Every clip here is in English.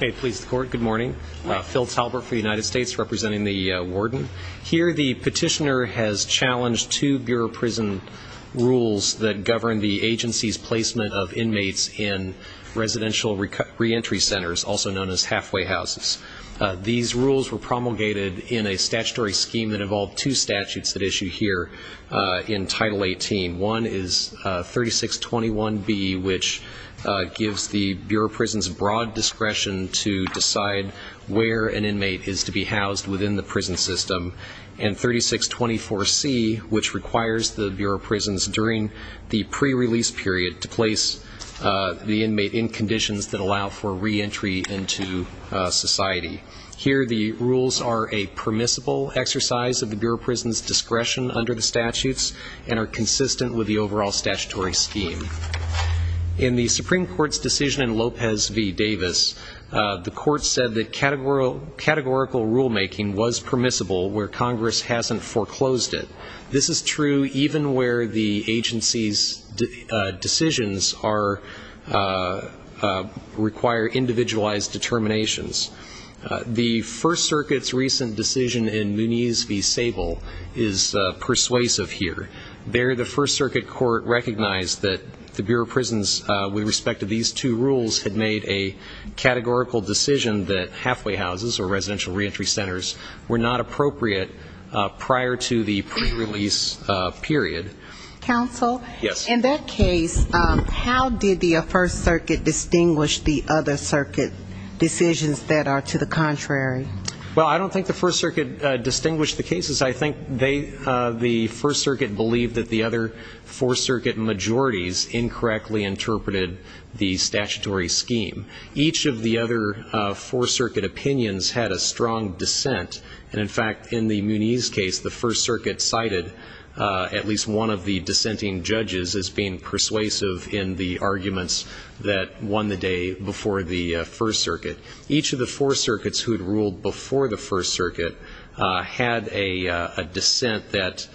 Good morning. Phil Talbert for the United States, representing the warden. Here the petitioner has challenged two bureau prison rules that govern the agency's placement of inmates in residential reentry centers, also known as halfway houses. These rules were promulgated in a statutory scheme that involved two statutes that issue here in Title 18. One is 3621B, which gives the bureau prison's broad discretion to decide where an inmate is to be housed within the prison system, and 3624C, which requires the bureau prison's during the pre-release period to place the inmate in conditions that allow for reentry into society. Here the rules are a permissible exercise of the bureau prison's discretion under the statutes and are consistent with the overall statutory scheme. In the Supreme Court's decision in Lopez v. Davis, the court said that categorical rulemaking was permissible where Congress hasn't foreclosed it. This is true even where the agency's decisions require individualized determinations. The First Circuit's recent decision in Muniz v. Davis is persuasive here. There the First Circuit court recognized that the bureau prison's, with respect to these two rules, had made a categorical decision that halfway houses or residential reentry centers were not appropriate prior to the pre-release period. Counsel? Yes. In that case, how did the First Circuit distinguish the other circuit decisions that are to the contrary? Well, I don't think the First Circuit distinguished the cases. I think they, the First Circuit believed that the other Fourth Circuit majorities incorrectly interpreted the statutory scheme. Each of the other Fourth Circuit opinions had a strong dissent. And, in fact, in the Muniz case, the First Circuit cited at least one of the dissenting judges as being persuasive in the arguments that won the day before the First Circuit. Each of the Fourth Circuits who had ruled before the First Circuit had a dissent that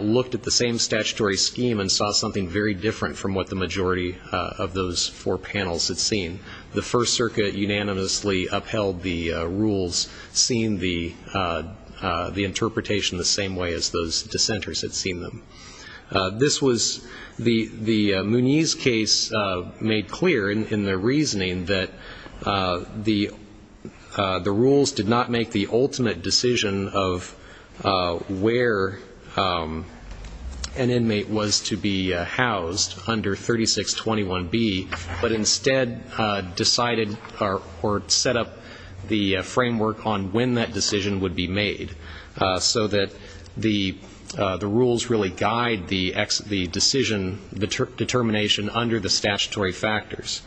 looked at the same statutory scheme and saw something very different from what the majority of those four panels had seen. The First Circuit unanimously upheld the rules, seeing the interpretation the same way as those dissenters had seen them. This was the Muniz case made clear in the reasoning that the rules did not make the ultimate decision of where an inmate was to be housed under 3621B, but instead decided or set up the framework on when that decision would be made, so that the rules really guide the decision determination under the statutory factors.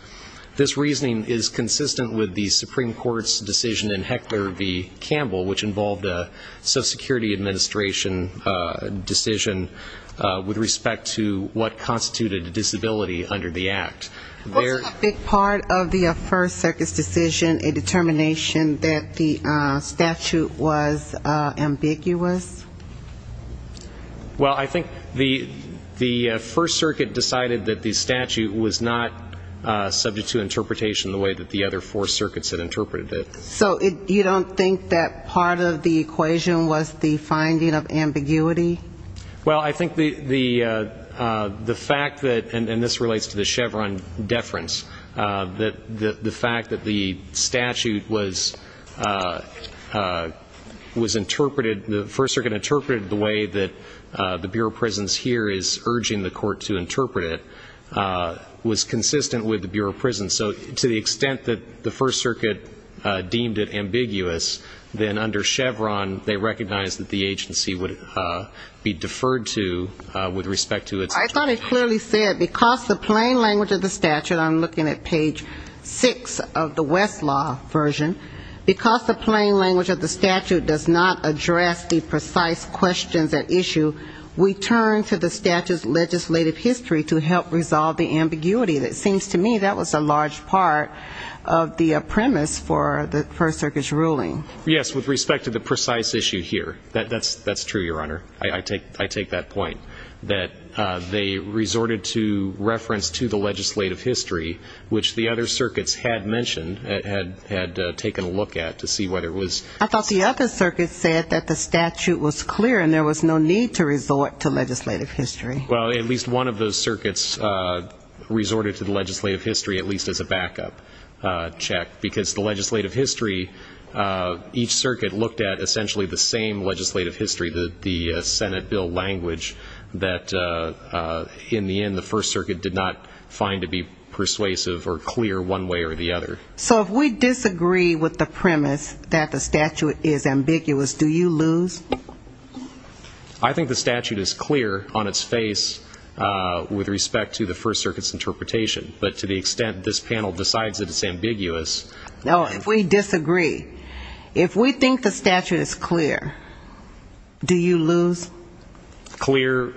This reasoning is consistent with the Supreme Court's decision in Hector v. Campbell, which involved a Social Security Administration decision with respect to what constituted disability under the Act. Was a big part of the First Circuit's decision a determination that the statute was ambiguous? Well, I think the First Circuit decided that the statute was not subject to interpretation the way that the other Four Circuits had interpreted it. So you don't think that part of the equation was the finding of ambiguity? Well, I think the fact that, and this relates to the Chevron deference, that the fact that the statute was interpreted, the First Circuit interpreted the way that the Bureau of Prisons here is urging the court to interpret it, was consistent with the Bureau of Prisons. So to the extent that the First Circuit deemed it ambiguous, then under Chevron they recognized that the agency would be deferred to with respect to its interpretation. I thought it clearly said, because the plain language of the statute, I'm looking at page 6 of the Westlaw version, because the plain language of the statute does not address the precise questions at issue, we turn to the statute's legislative history to help resolve the ambiguity. It seems to me that was a large part of the premise for the First Circuit's ruling. Yes, with respect to the precise issue here. That's true, Your Honor. I take that point, that they resorted to reference to the legislative history, which the other circuits had mentioned, had taken a look at to see what it was. I thought the other circuits said that the statute was clear and there was no need to resort to legislative history. Well, at least one of those circuits resorted to the legislative history, at least as a backup check, because the legislative history, each circuit looked at essentially the same legislative history, the Senate bill language, that in the end the First Circuit did not find to be persuasive or clear one way or the other. So if we disagree with the premise that the statute is ambiguous, do you lose? I think the statute is clear on its face with respect to the First Circuit's interpretation, but to the extent that this panel decides that it's ambiguous. No, if we disagree, if we think the statute is clear, do you lose? Clear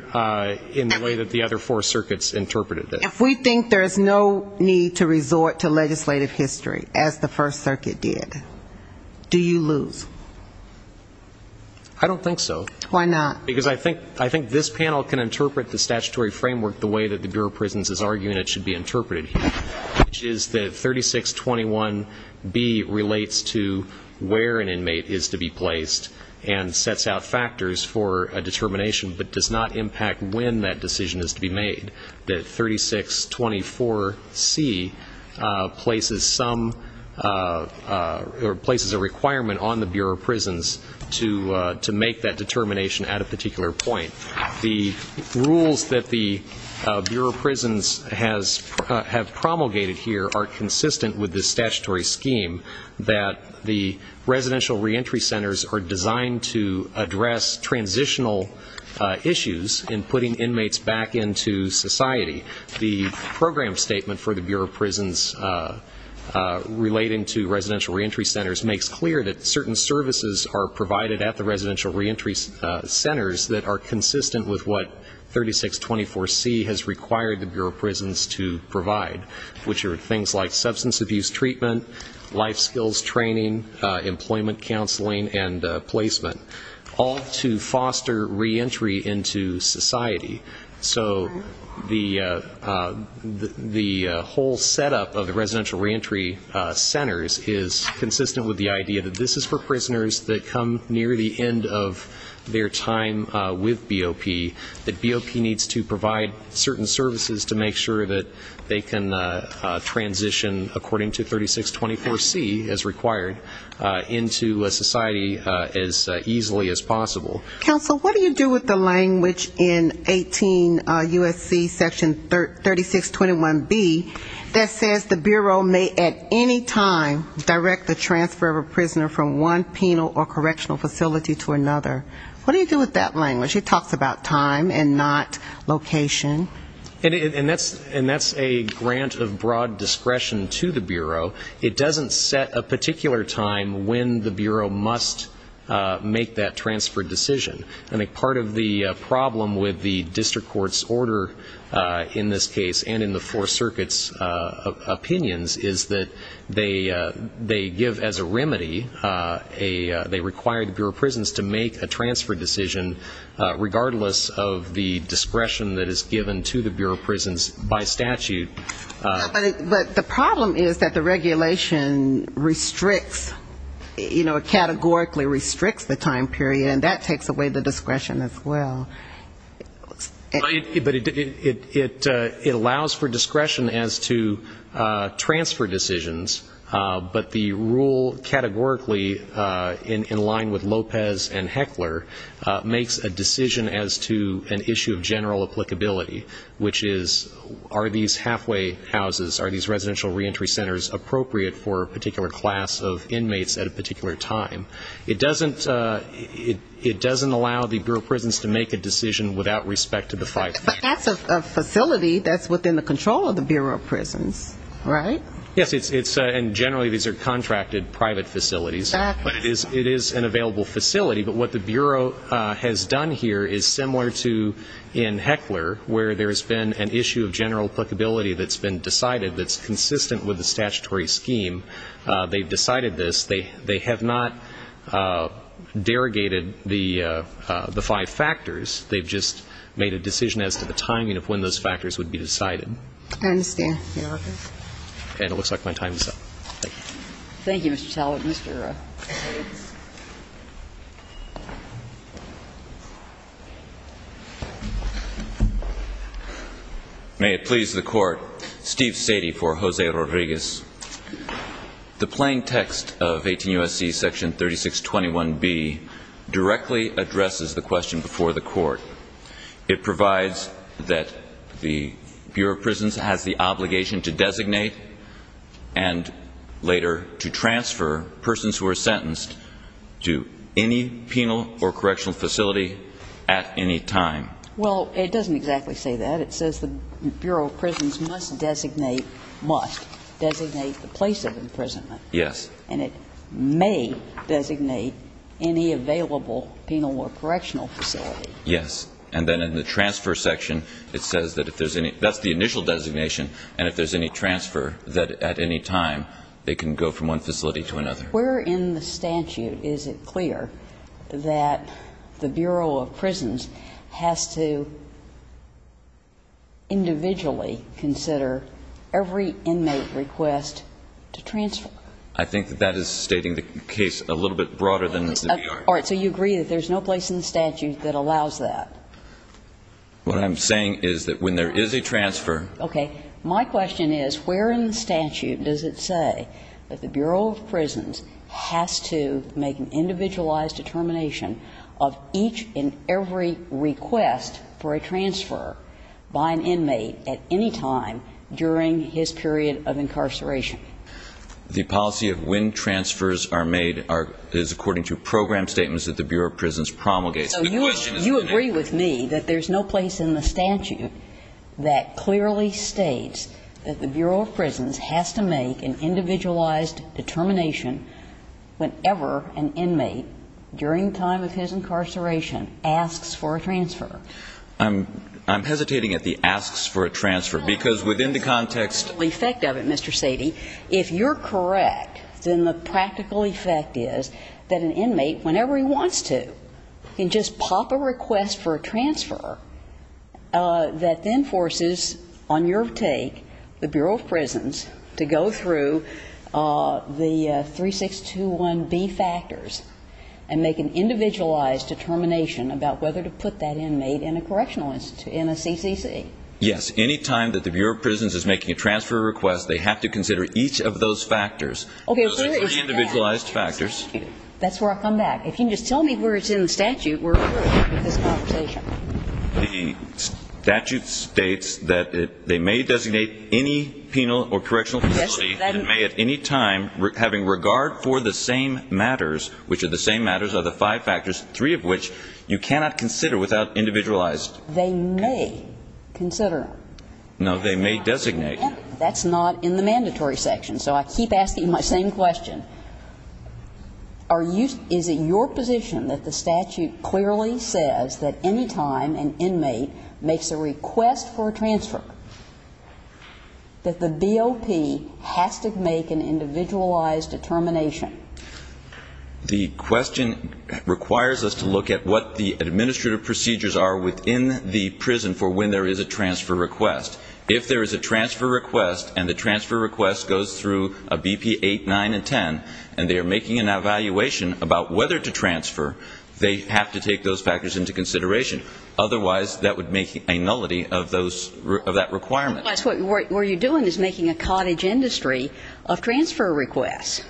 in the way that the other four circuits interpreted it. If we think there's no need to resort to legislative history, as the First Circuit did, do you lose? I don't think so. Why not? Because I think this panel can interpret the statutory framework the way that the Bureau of Prisons is arguing it should be interpreted here, which is that 3621B relates to where an inmate is to be placed and sets out factors for a determination, but does not impact when that decision is to be made, that 3624C places some or places a requirement on the Bureau of Prisons to make that determination at a particular point. The rules that the Bureau of Prisons have promulgated here are consistent with the statutory scheme that the residential reentry centers are designed to address transitional issues in putting inmates back into society. The program statement for the Bureau of Prisons relating to residential reentry centers makes clear that certain services are provided at the residential reentry centers that are consistent with what 3624C has required the Bureau of Prisons to provide, which are things like substance abuse treatment, life skills training, employment counseling, and placement, all to foster reentry into society. So the whole setup of the residential reentry centers is consistent with the idea that this is for prisoners that come near the end of their time with BOP, that BOP needs to provide certain services to make sure that they can transition, according to 3624C, as required, into society as easily as possible. Counsel, what do you do with the language in 18 U.S.C. section 3621B that says the Bureau may at any time direct the transfer of a prisoner from one penal or correctional facility to another? What do you do with that language? It talks about time and not location. And that's a grant of broad discretion to the Bureau. It doesn't set a particular time when the Bureau must make that transfer decision. I think part of the problem with the district court's order in this case and in the Fourth Circuit's opinions is that they give as a remedy, they require the Bureau of Prisons to make a transfer decision regardless of the discretion that is given to the Bureau of Prisons by statute. But the problem is that the regulation restricts, you know, categorically restricts the time period, and that takes away the discretion as well. But it allows for discretion as to transfer decisions, but the rule categorically, in line with Lopez and Heckler, makes a decision as to an issue of general applicability, which is, are these halfway houses, are these residential reentry centers appropriate for a particular class of inmates at a particular time? It doesn't allow the Bureau of Prisons to make a decision without respect to the fight. But that's a facility that's within the control of the Bureau of Prisons, right? Yes, and generally these are contracted private facilities. But it is an available facility. But what the Bureau has done here is similar to in Heckler, where there's been an issue of general applicability that's been decided that's consistent with the statutory scheme. They've decided this. They have not derogated the five factors. They've just made a decision as to the timing of when those factors would be decided. I understand, Your Honor. And it looks like my time is up. Thank you. Thank you, Mr. Talbot. Mr. Bates. May it please the Court. Steve Satie for Jose Rodriguez. The plain text of 18 U.S.C. section 3621B directly addresses the question before the Court. It provides that the Bureau of Prisons has the obligation to designate and later to transfer persons who are sentenced to any penal or correctional facility at any time. Well, it doesn't exactly say that. It says the Bureau of Prisons must designate, must designate the place of imprisonment. Yes. And it may designate any available penal or correctional facility. Yes. And then in the transfer section, it says that if there's any – that's the initial designation, and if there's any transfer, that at any time they can go from one facility to another. Where in the statute is it clear that the Bureau of Prisons has to individually consider every inmate request to transfer? I think that that is stating the case a little bit broader than the BR. All right. So you agree that there's no place in the statute that allows that? What I'm saying is that when there is a transfer – Okay. My question is where in the statute does it say that the Bureau of Prisons has to make an individualized determination of each and every request for a transfer by an inmate at any time during his period of incarceration? The policy of when transfers are made are – is according to program statements that the Bureau of Prisons promulgates. So you agree with me that there's no place in the statute that clearly states that the Bureau of Prisons has to make an individualized determination whenever an inmate during the time of his incarceration asks for a transfer? I'm hesitating at the asks for a transfer, because within the context – That's the practical effect of it, Mr. Sadie. If you're correct, then the practical effect is that an inmate, whenever he wants to, can just pop a request for a transfer that then forces, on your take, the Bureau of Prisons to go through the 3621B factors and make an individualized determination about whether to put that inmate in a correctional – in a CCC. Yes. Any time that the Bureau of Prisons is making a transfer request, they have to consider each of those factors. Okay. Those are the individualized factors. That's where I come back. If you can just tell me where it's in the statute where we're at with this conversation. The statute states that they may designate any penal or correctional facility and may at any time, having regard for the same matters, which are the same matters, are the five factors, three of which you cannot consider without individualized They may consider. No. They may designate. That's not in the mandatory section. So I keep asking my same question. Is it your position that the statute clearly says that any time an inmate makes a request for a transfer, that the BOP has to make an individualized determination? The question requires us to look at what the administrative procedures are within the prison for when there is a transfer request. If there is a transfer request, and the transfer request goes through a BP 8, 9, and 10, and they are making an evaluation about whether to transfer, they have to take those factors into consideration. Otherwise, that would make a nullity of that requirement. That's what you're doing is making a cottage industry of transfer requests.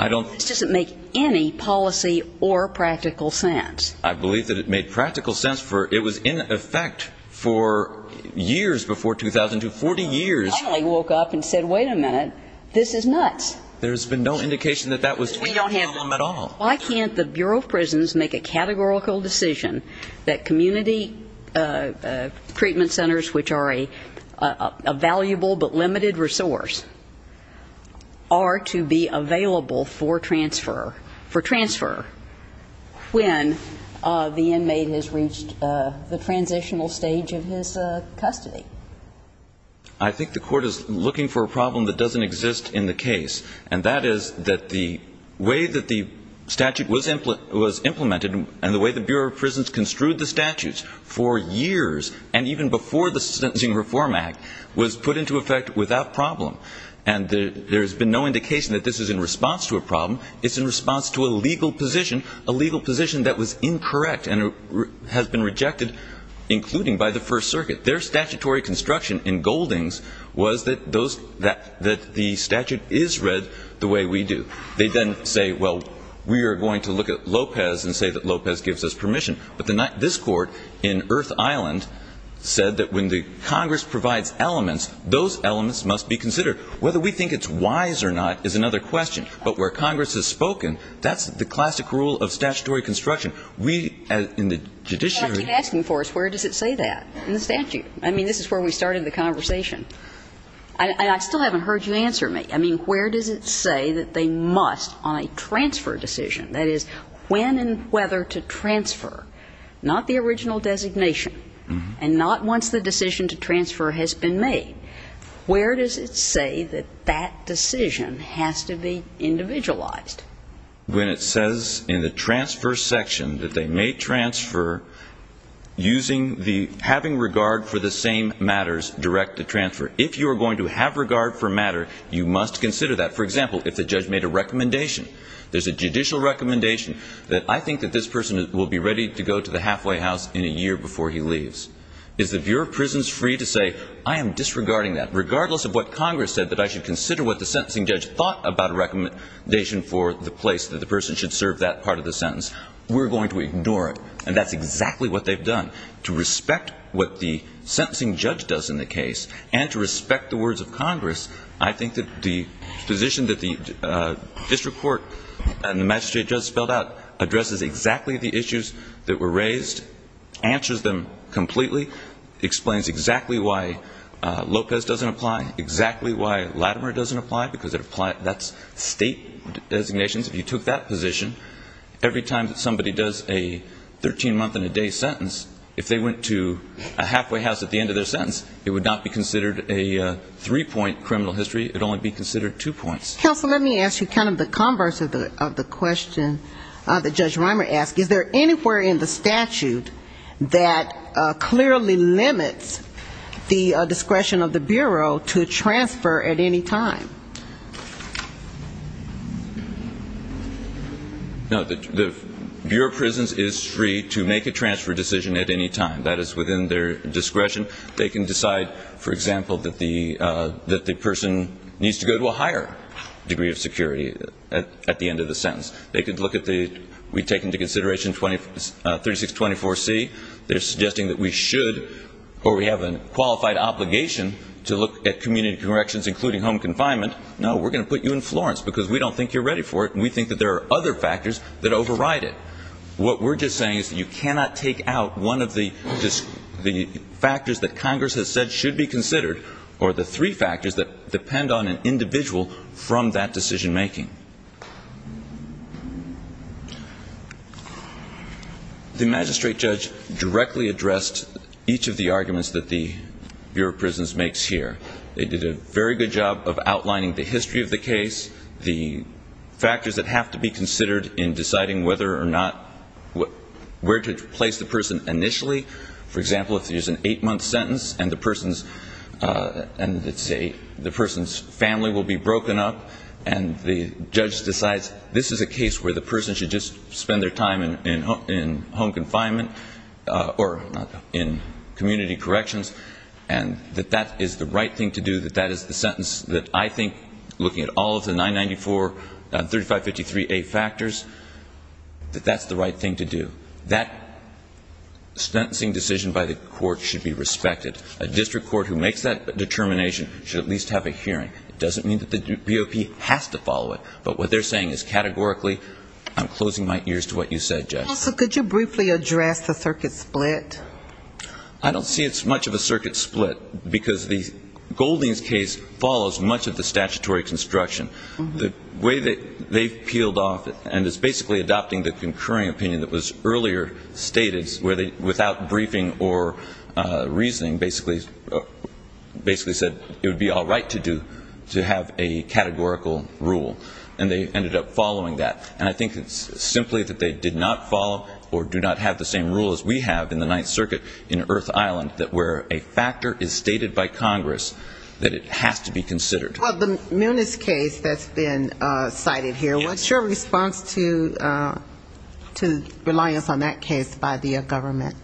I don't. This doesn't make any policy or practical sense. I believe that it made practical sense for it was in effect for years before 2002, 40 years. I only woke up and said, wait a minute, this is nuts. There's been no indication that that was true. We don't handle them at all. Why can't the Bureau of Prisons make a categorical decision that community treatment centers, which are a valuable but limited resource, are to be available for transfer, for transfer, when the inmate has reached the transitional stage of his custody? I think the Court is looking for a problem that doesn't exist in the case, and that is that the way that the statute was implemented and the way the Bureau of Prisons construed the statutes for years, and even before the Sentencing Reform Act, was put into effect without problem. And there has been no indication that this is in response to a problem. It's in response to a legal position, a legal position that was incorrect and has been rejected, including by the First Circuit. Their statutory construction in Goldings was that the statute is read the way we do. They then say, well, we are going to look at Lopez and say that Lopez gives us permission. But this Court in Earth Island said that when the Congress provides elements, those elements must be considered. Whether we think it's wise or not is another question. But where Congress has spoken, that's the classic rule of statutory construction. We, in the judiciary ---- Well, I keep asking for it. Where does it say that in the statute? I mean, this is where we started the conversation. And I still haven't heard you answer me. I mean, where does it say that they must on a transfer decision, that is, when and whether to transfer, not the original designation and not once the decision to transfer has been made, where does it say that that decision has to be individualized? When it says in the transfer section that they may transfer using the having regard for the same matters direct to transfer. If you are going to have regard for a matter, you must consider that. For example, if the judge made a recommendation, there's a judicial recommendation that I think that this person will be ready to go to the halfway house in a year before he leaves. Is the Bureau of Prisons free to say I am disregarding that, regardless of what Congress said, that I should consider what the sentencing judge thought about a recommendation for the place that the person should serve that part of the sentence? We're going to ignore it. And that's exactly what they've done. To respect what the sentencing judge does in the case and to respect the words of Congress, I think that the position that the district court and the magistrate just spelled out addresses exactly the issues that were raised, answers them completely, explains exactly why Lopez doesn't apply, exactly why Latimer doesn't apply, because that's state designations. If you took that position, every time somebody does a 13-month-and-a-day sentence, if they went to a halfway house at the end of their sentence, it would not be considered a three-point criminal history. It would only be considered two points. Counsel, let me ask you kind of the converse of the question that Judge Reimer asked. Is there anywhere in the statute that clearly limits the discretion of the Bureau to transfer at any time? No. The Bureau of Prisons is free to make a transfer decision at any time. That is within their discretion. They can decide, for example, that the person needs to go to a higher degree of security at the end of the sentence. They could look at the we take into consideration 3624C. They're suggesting that we should or we have a qualified obligation to look at community corrections, including home confinement. No, we're going to put you in Florence because we don't think you're ready for it and we think that there are other factors that override it. What we're just saying is that you cannot take out one of the factors that Congress has said should be considered or the three factors that depend on an individual from that decision-making. The magistrate judge directly addressed each of the arguments that the Bureau of Prisons makes here. They did a very good job of outlining the history of the case, the factors that have to be considered in deciding whether or not where to place the person initially. For example, if there's an eight-month sentence and the person's family will be broken up and the judge decides this is a case where the person should just spend their time in home confinement or in community corrections and that that is the right thing to do, that that is the sentence that I think looking at all of the 994, 3553A factors, that that's the right thing to do. That sentencing decision by the court should be respected. A district court who makes that determination should at least have a hearing. It doesn't mean that the BOP has to follow it, but what they're saying is categorically I'm closing my ears to what you said, Jess. So could you briefly address the circuit split? I don't see it's much of a circuit split, because Golding's case follows much of the statutory construction. The way that they've peeled off, and it's basically adopting the concurring opinion that was earlier stated, where without briefing or reasoning basically said it would be all right to have a categorical rule. And they ended up following that. And I think it's simply that they did not follow or do not have the same rule as we have in the 994. And I think that's the reason why we're in that circuit in Earth Island, that where a factor is stated by Congress, that it has to be considered. Well, the Moonies case that's been cited here, what's your response to reliance on that case by the government?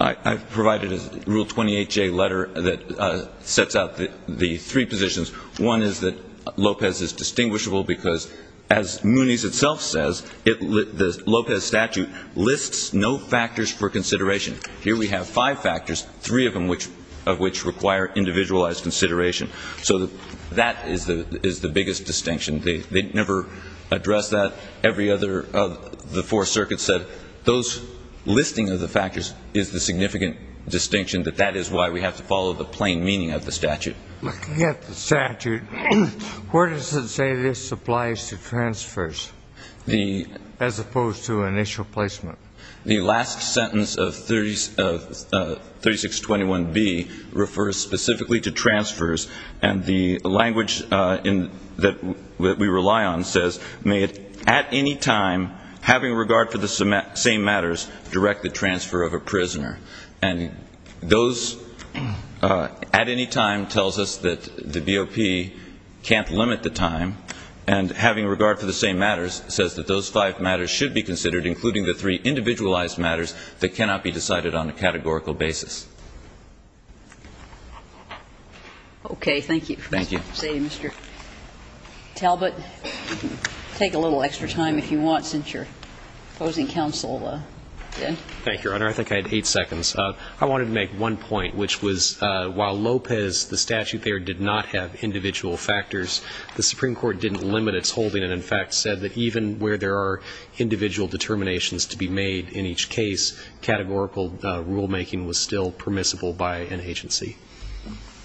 I've provided a Rule 28J letter that sets out the three positions. One is that Lopez is distinguishable because, as Moonies itself says, the Lopez statute lists no factors for consideration. Here we have five factors, three of which require individualized consideration. So that is the biggest distinction. They never address that. Every other of the four circuits said those listing of the factors is the significant distinction, that that is why we have to follow the plain meaning of the statute. Looking at the statute, where does it say this applies to transfers as opposed to initial placement? The last sentence of 3621B refers specifically to transfers. And the language that we rely on says, may it at any time, having regard for the same matters, direct the transfer of a prisoner. And those at any time tells us that the BOP can't limit the time. And having regard for the same matters says that those five matters should be considered, including the three individualized matters that cannot be decided on a categorical basis. Okay. Thank you. Thank you. Mr. Talbot, take a little extra time if you want, since you're opposing counsel. Thank you, Your Honor. I think I had eight seconds. I wanted to make one point, which was while Lopez, the statute there, did not have individual factors, the Supreme Court didn't limit its holding, and in fact said that even where there are individual determinations to be made in each case, categorical rulemaking was still permissible by an agency.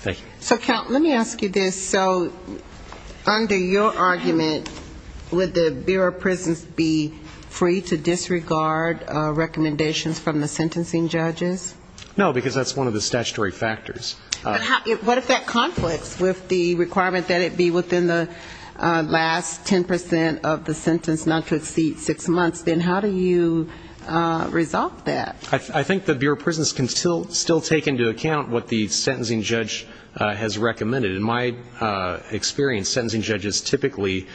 Thank you. So, Count, let me ask you this. So under your argument, would the Bureau of Prisons be free to disregard recommendations from the sentencing judges? No, because that's one of the statutory factors. What if that conflicts with the requirement that it be within the last 10% of the sentence, not to exceed six months, then how do you resolve that? I think the Bureau of Prisons can still take into account what the sentencing judge has recommended. In my experience, sentencing judges typically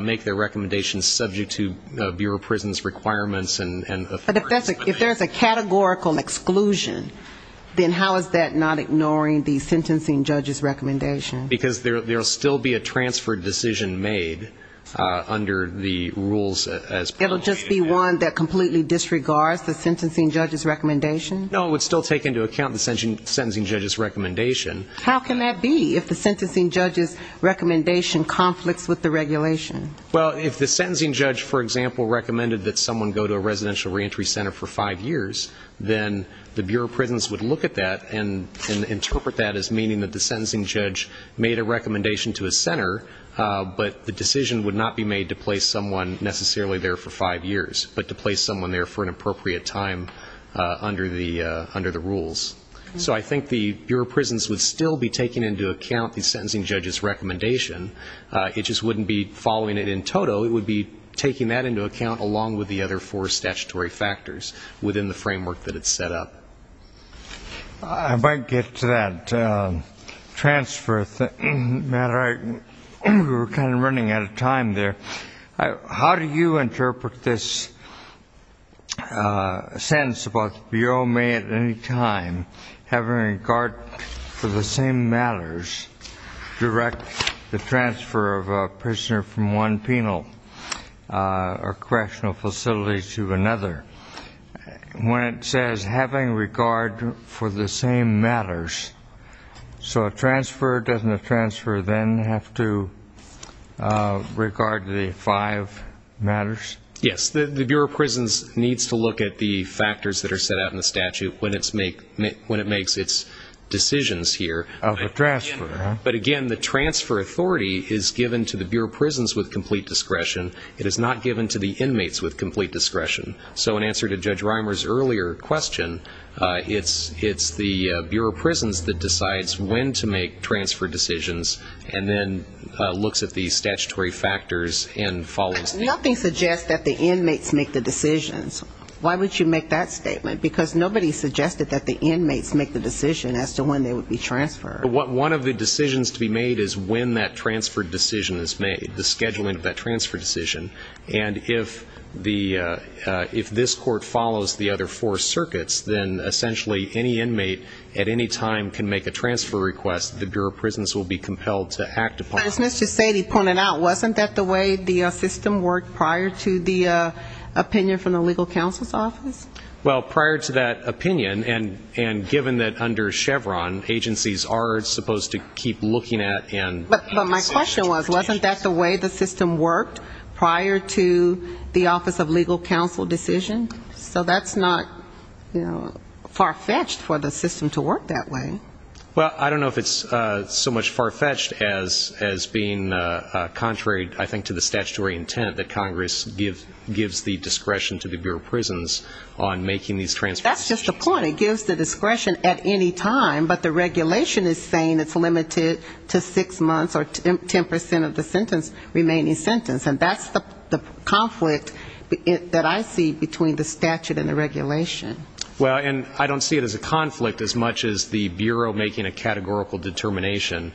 make their recommendations subject to Bureau of Prisons requirements. But if there's a categorical exclusion, then how is that not ignoring the sentencing judge's recommendation? Because there will still be a transfer decision made under the rules. It will just be one that completely disregards the sentencing judge's recommendation? No, it would still take into account the sentencing judge's recommendation. How can that be, if the sentencing judge's recommendation conflicts with the regulation? Well, if the sentencing judge, for example, recommended that someone go to a residential reentry center for five years, then the Bureau of Prisons would look at that and interpret that as meaning that the sentencing judge made a recommendation to a center, but the decision would not be made to place someone necessarily there for five years, but to place someone there for an appropriate time under the rules. So I think the Bureau of Prisons would still be taking into account the sentencing judge's recommendation. It just wouldn't be following it in total. It would be taking that into account along with the other four statutory factors within the framework that it's set up. I might get to that transfer matter. We were kind of running out of time there. How do you interpret this sentence about the Bureau may at any time, having regard for the same matters, direct the transfer of a prisoner from one penal or correctional facility to another? When it says having regard for the same matters, so a transfer, doesn't a transfer then have to regard the five matters? Yes. The Bureau of Prisons needs to look at the factors that are set out in the statute when it makes its decisions here. Of a transfer, huh? But, again, the transfer authority is given to the Bureau of Prisons with complete discretion. It is not given to the inmates with complete discretion. So in answer to Judge Reimer's earlier question, it's the Bureau of Prisons that decides when to make transfer decisions and then looks at the statutory factors and follows them. Nothing suggests that the inmates make the decisions. Why would you make that statement? Because nobody suggested that the inmates make the decision as to when they would be transferred. One of the decisions to be made is when that transfer decision is made, the scheduling of that transfer decision. And if this court follows the other four circuits, then essentially any inmate at any time can make a transfer request that the Bureau of Prisons will be compelled to act upon. As Mr. Sadie pointed out, wasn't that the way the system worked prior to the opinion from the legal counsel's office? Well, prior to that opinion, and given that under Chevron agencies are supposed to keep looking at and making statutory decisions. Wasn't that the way the system worked prior to the office of legal counsel decision? So that's not, you know, far-fetched for the system to work that way. Well, I don't know if it's so much far-fetched as being contrary, I think, to the statutory intent that Congress gives the discretion to the Bureau of Prisons on making these transfer decisions. That's just the point. And it gives the discretion at any time, but the regulation is saying it's limited to six months or 10 percent of the remaining sentence. And that's the conflict that I see between the statute and the regulation. Well, and I don't see it as a conflict as much as the Bureau making a categorical determination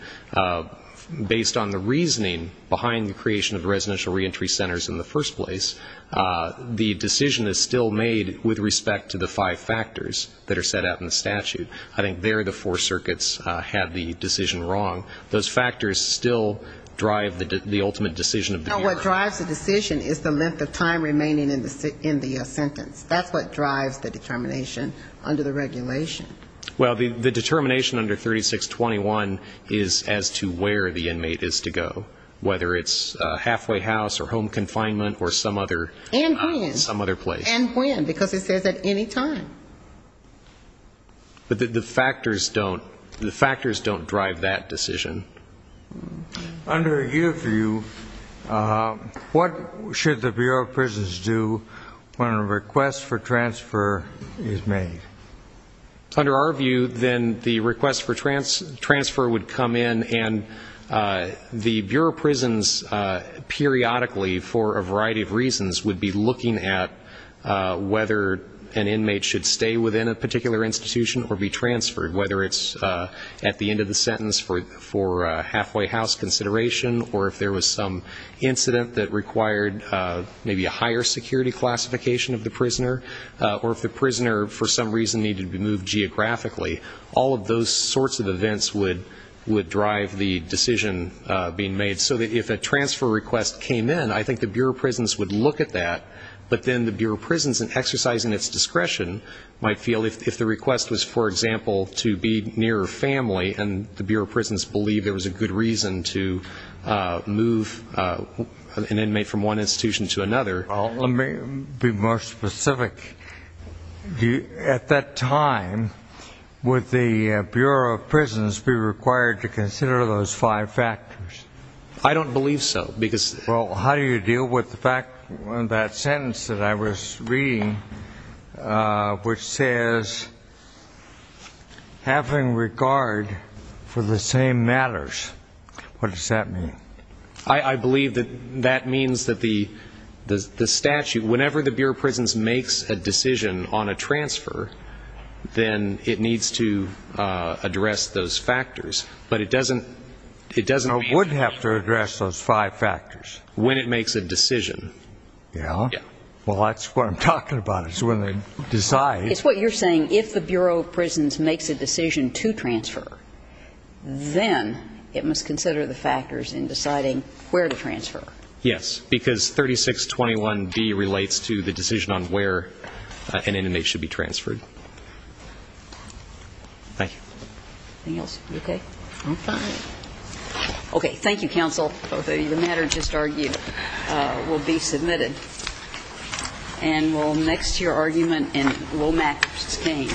based on the reasoning behind the creation of residential reentry centers in the first place. The decision is still made with respect to the five factors that are set out in the statute. I think there the four circuits had the decision wrong. Those factors still drive the ultimate decision of the Bureau. Now, what drives the decision is the length of time remaining in the sentence. That's what drives the determination under the regulation. Well, the determination under 3621 is as to where the inmate is to go, whether it's halfway house or home confinement or some other place. And when, because it says at any time. But the factors don't drive that decision. Under your view, what should the Bureau of Prisons do when a request for transfer is made? Under our view, then the request for transfer would come in, and the Bureau of Prisons periodically, for a variety of reasons, would be looking at whether an inmate should stay within a particular institution or be transferred, whether it's at the end of the sentence for halfway house consideration, or if there was some incident that required maybe a higher security classification of the prisoner, or if the prisoner for some reason needed to be moved geographically. All of those sorts of events would drive the decision being made. So that if a transfer request came in, I think the Bureau of Prisons would look at that, but then the Bureau of Prisons in exercising its discretion might feel if the request was, for example, to be near a family and the Bureau of Prisons believed there was a good reason to move an inmate from one institution to another. Let me be more specific. At that time, would the Bureau of Prisons be required to consider those five factors? I don't believe so. Well, how do you deal with that sentence that I was reading, which says, having regard for the same matters? What does that mean? I believe that that means that the statute, whenever the Bureau of Prisons makes a decision on a transfer, then it needs to address those factors. But it doesn't mean you would have to address those five factors. When it makes a decision. Well, that's what I'm talking about, is when they decide. It's what you're saying, if the Bureau of Prisons makes a decision to transfer, then it must consider the factors in deciding where to transfer. Yes, because 3621D relates to the decision on where an inmate should be transferred. Thank you. Anything else? You okay? I'm fine. Okay. Thank you, counsel. The matter just argued will be submitted. And we'll next to your argument and we'll match the same. Thank you.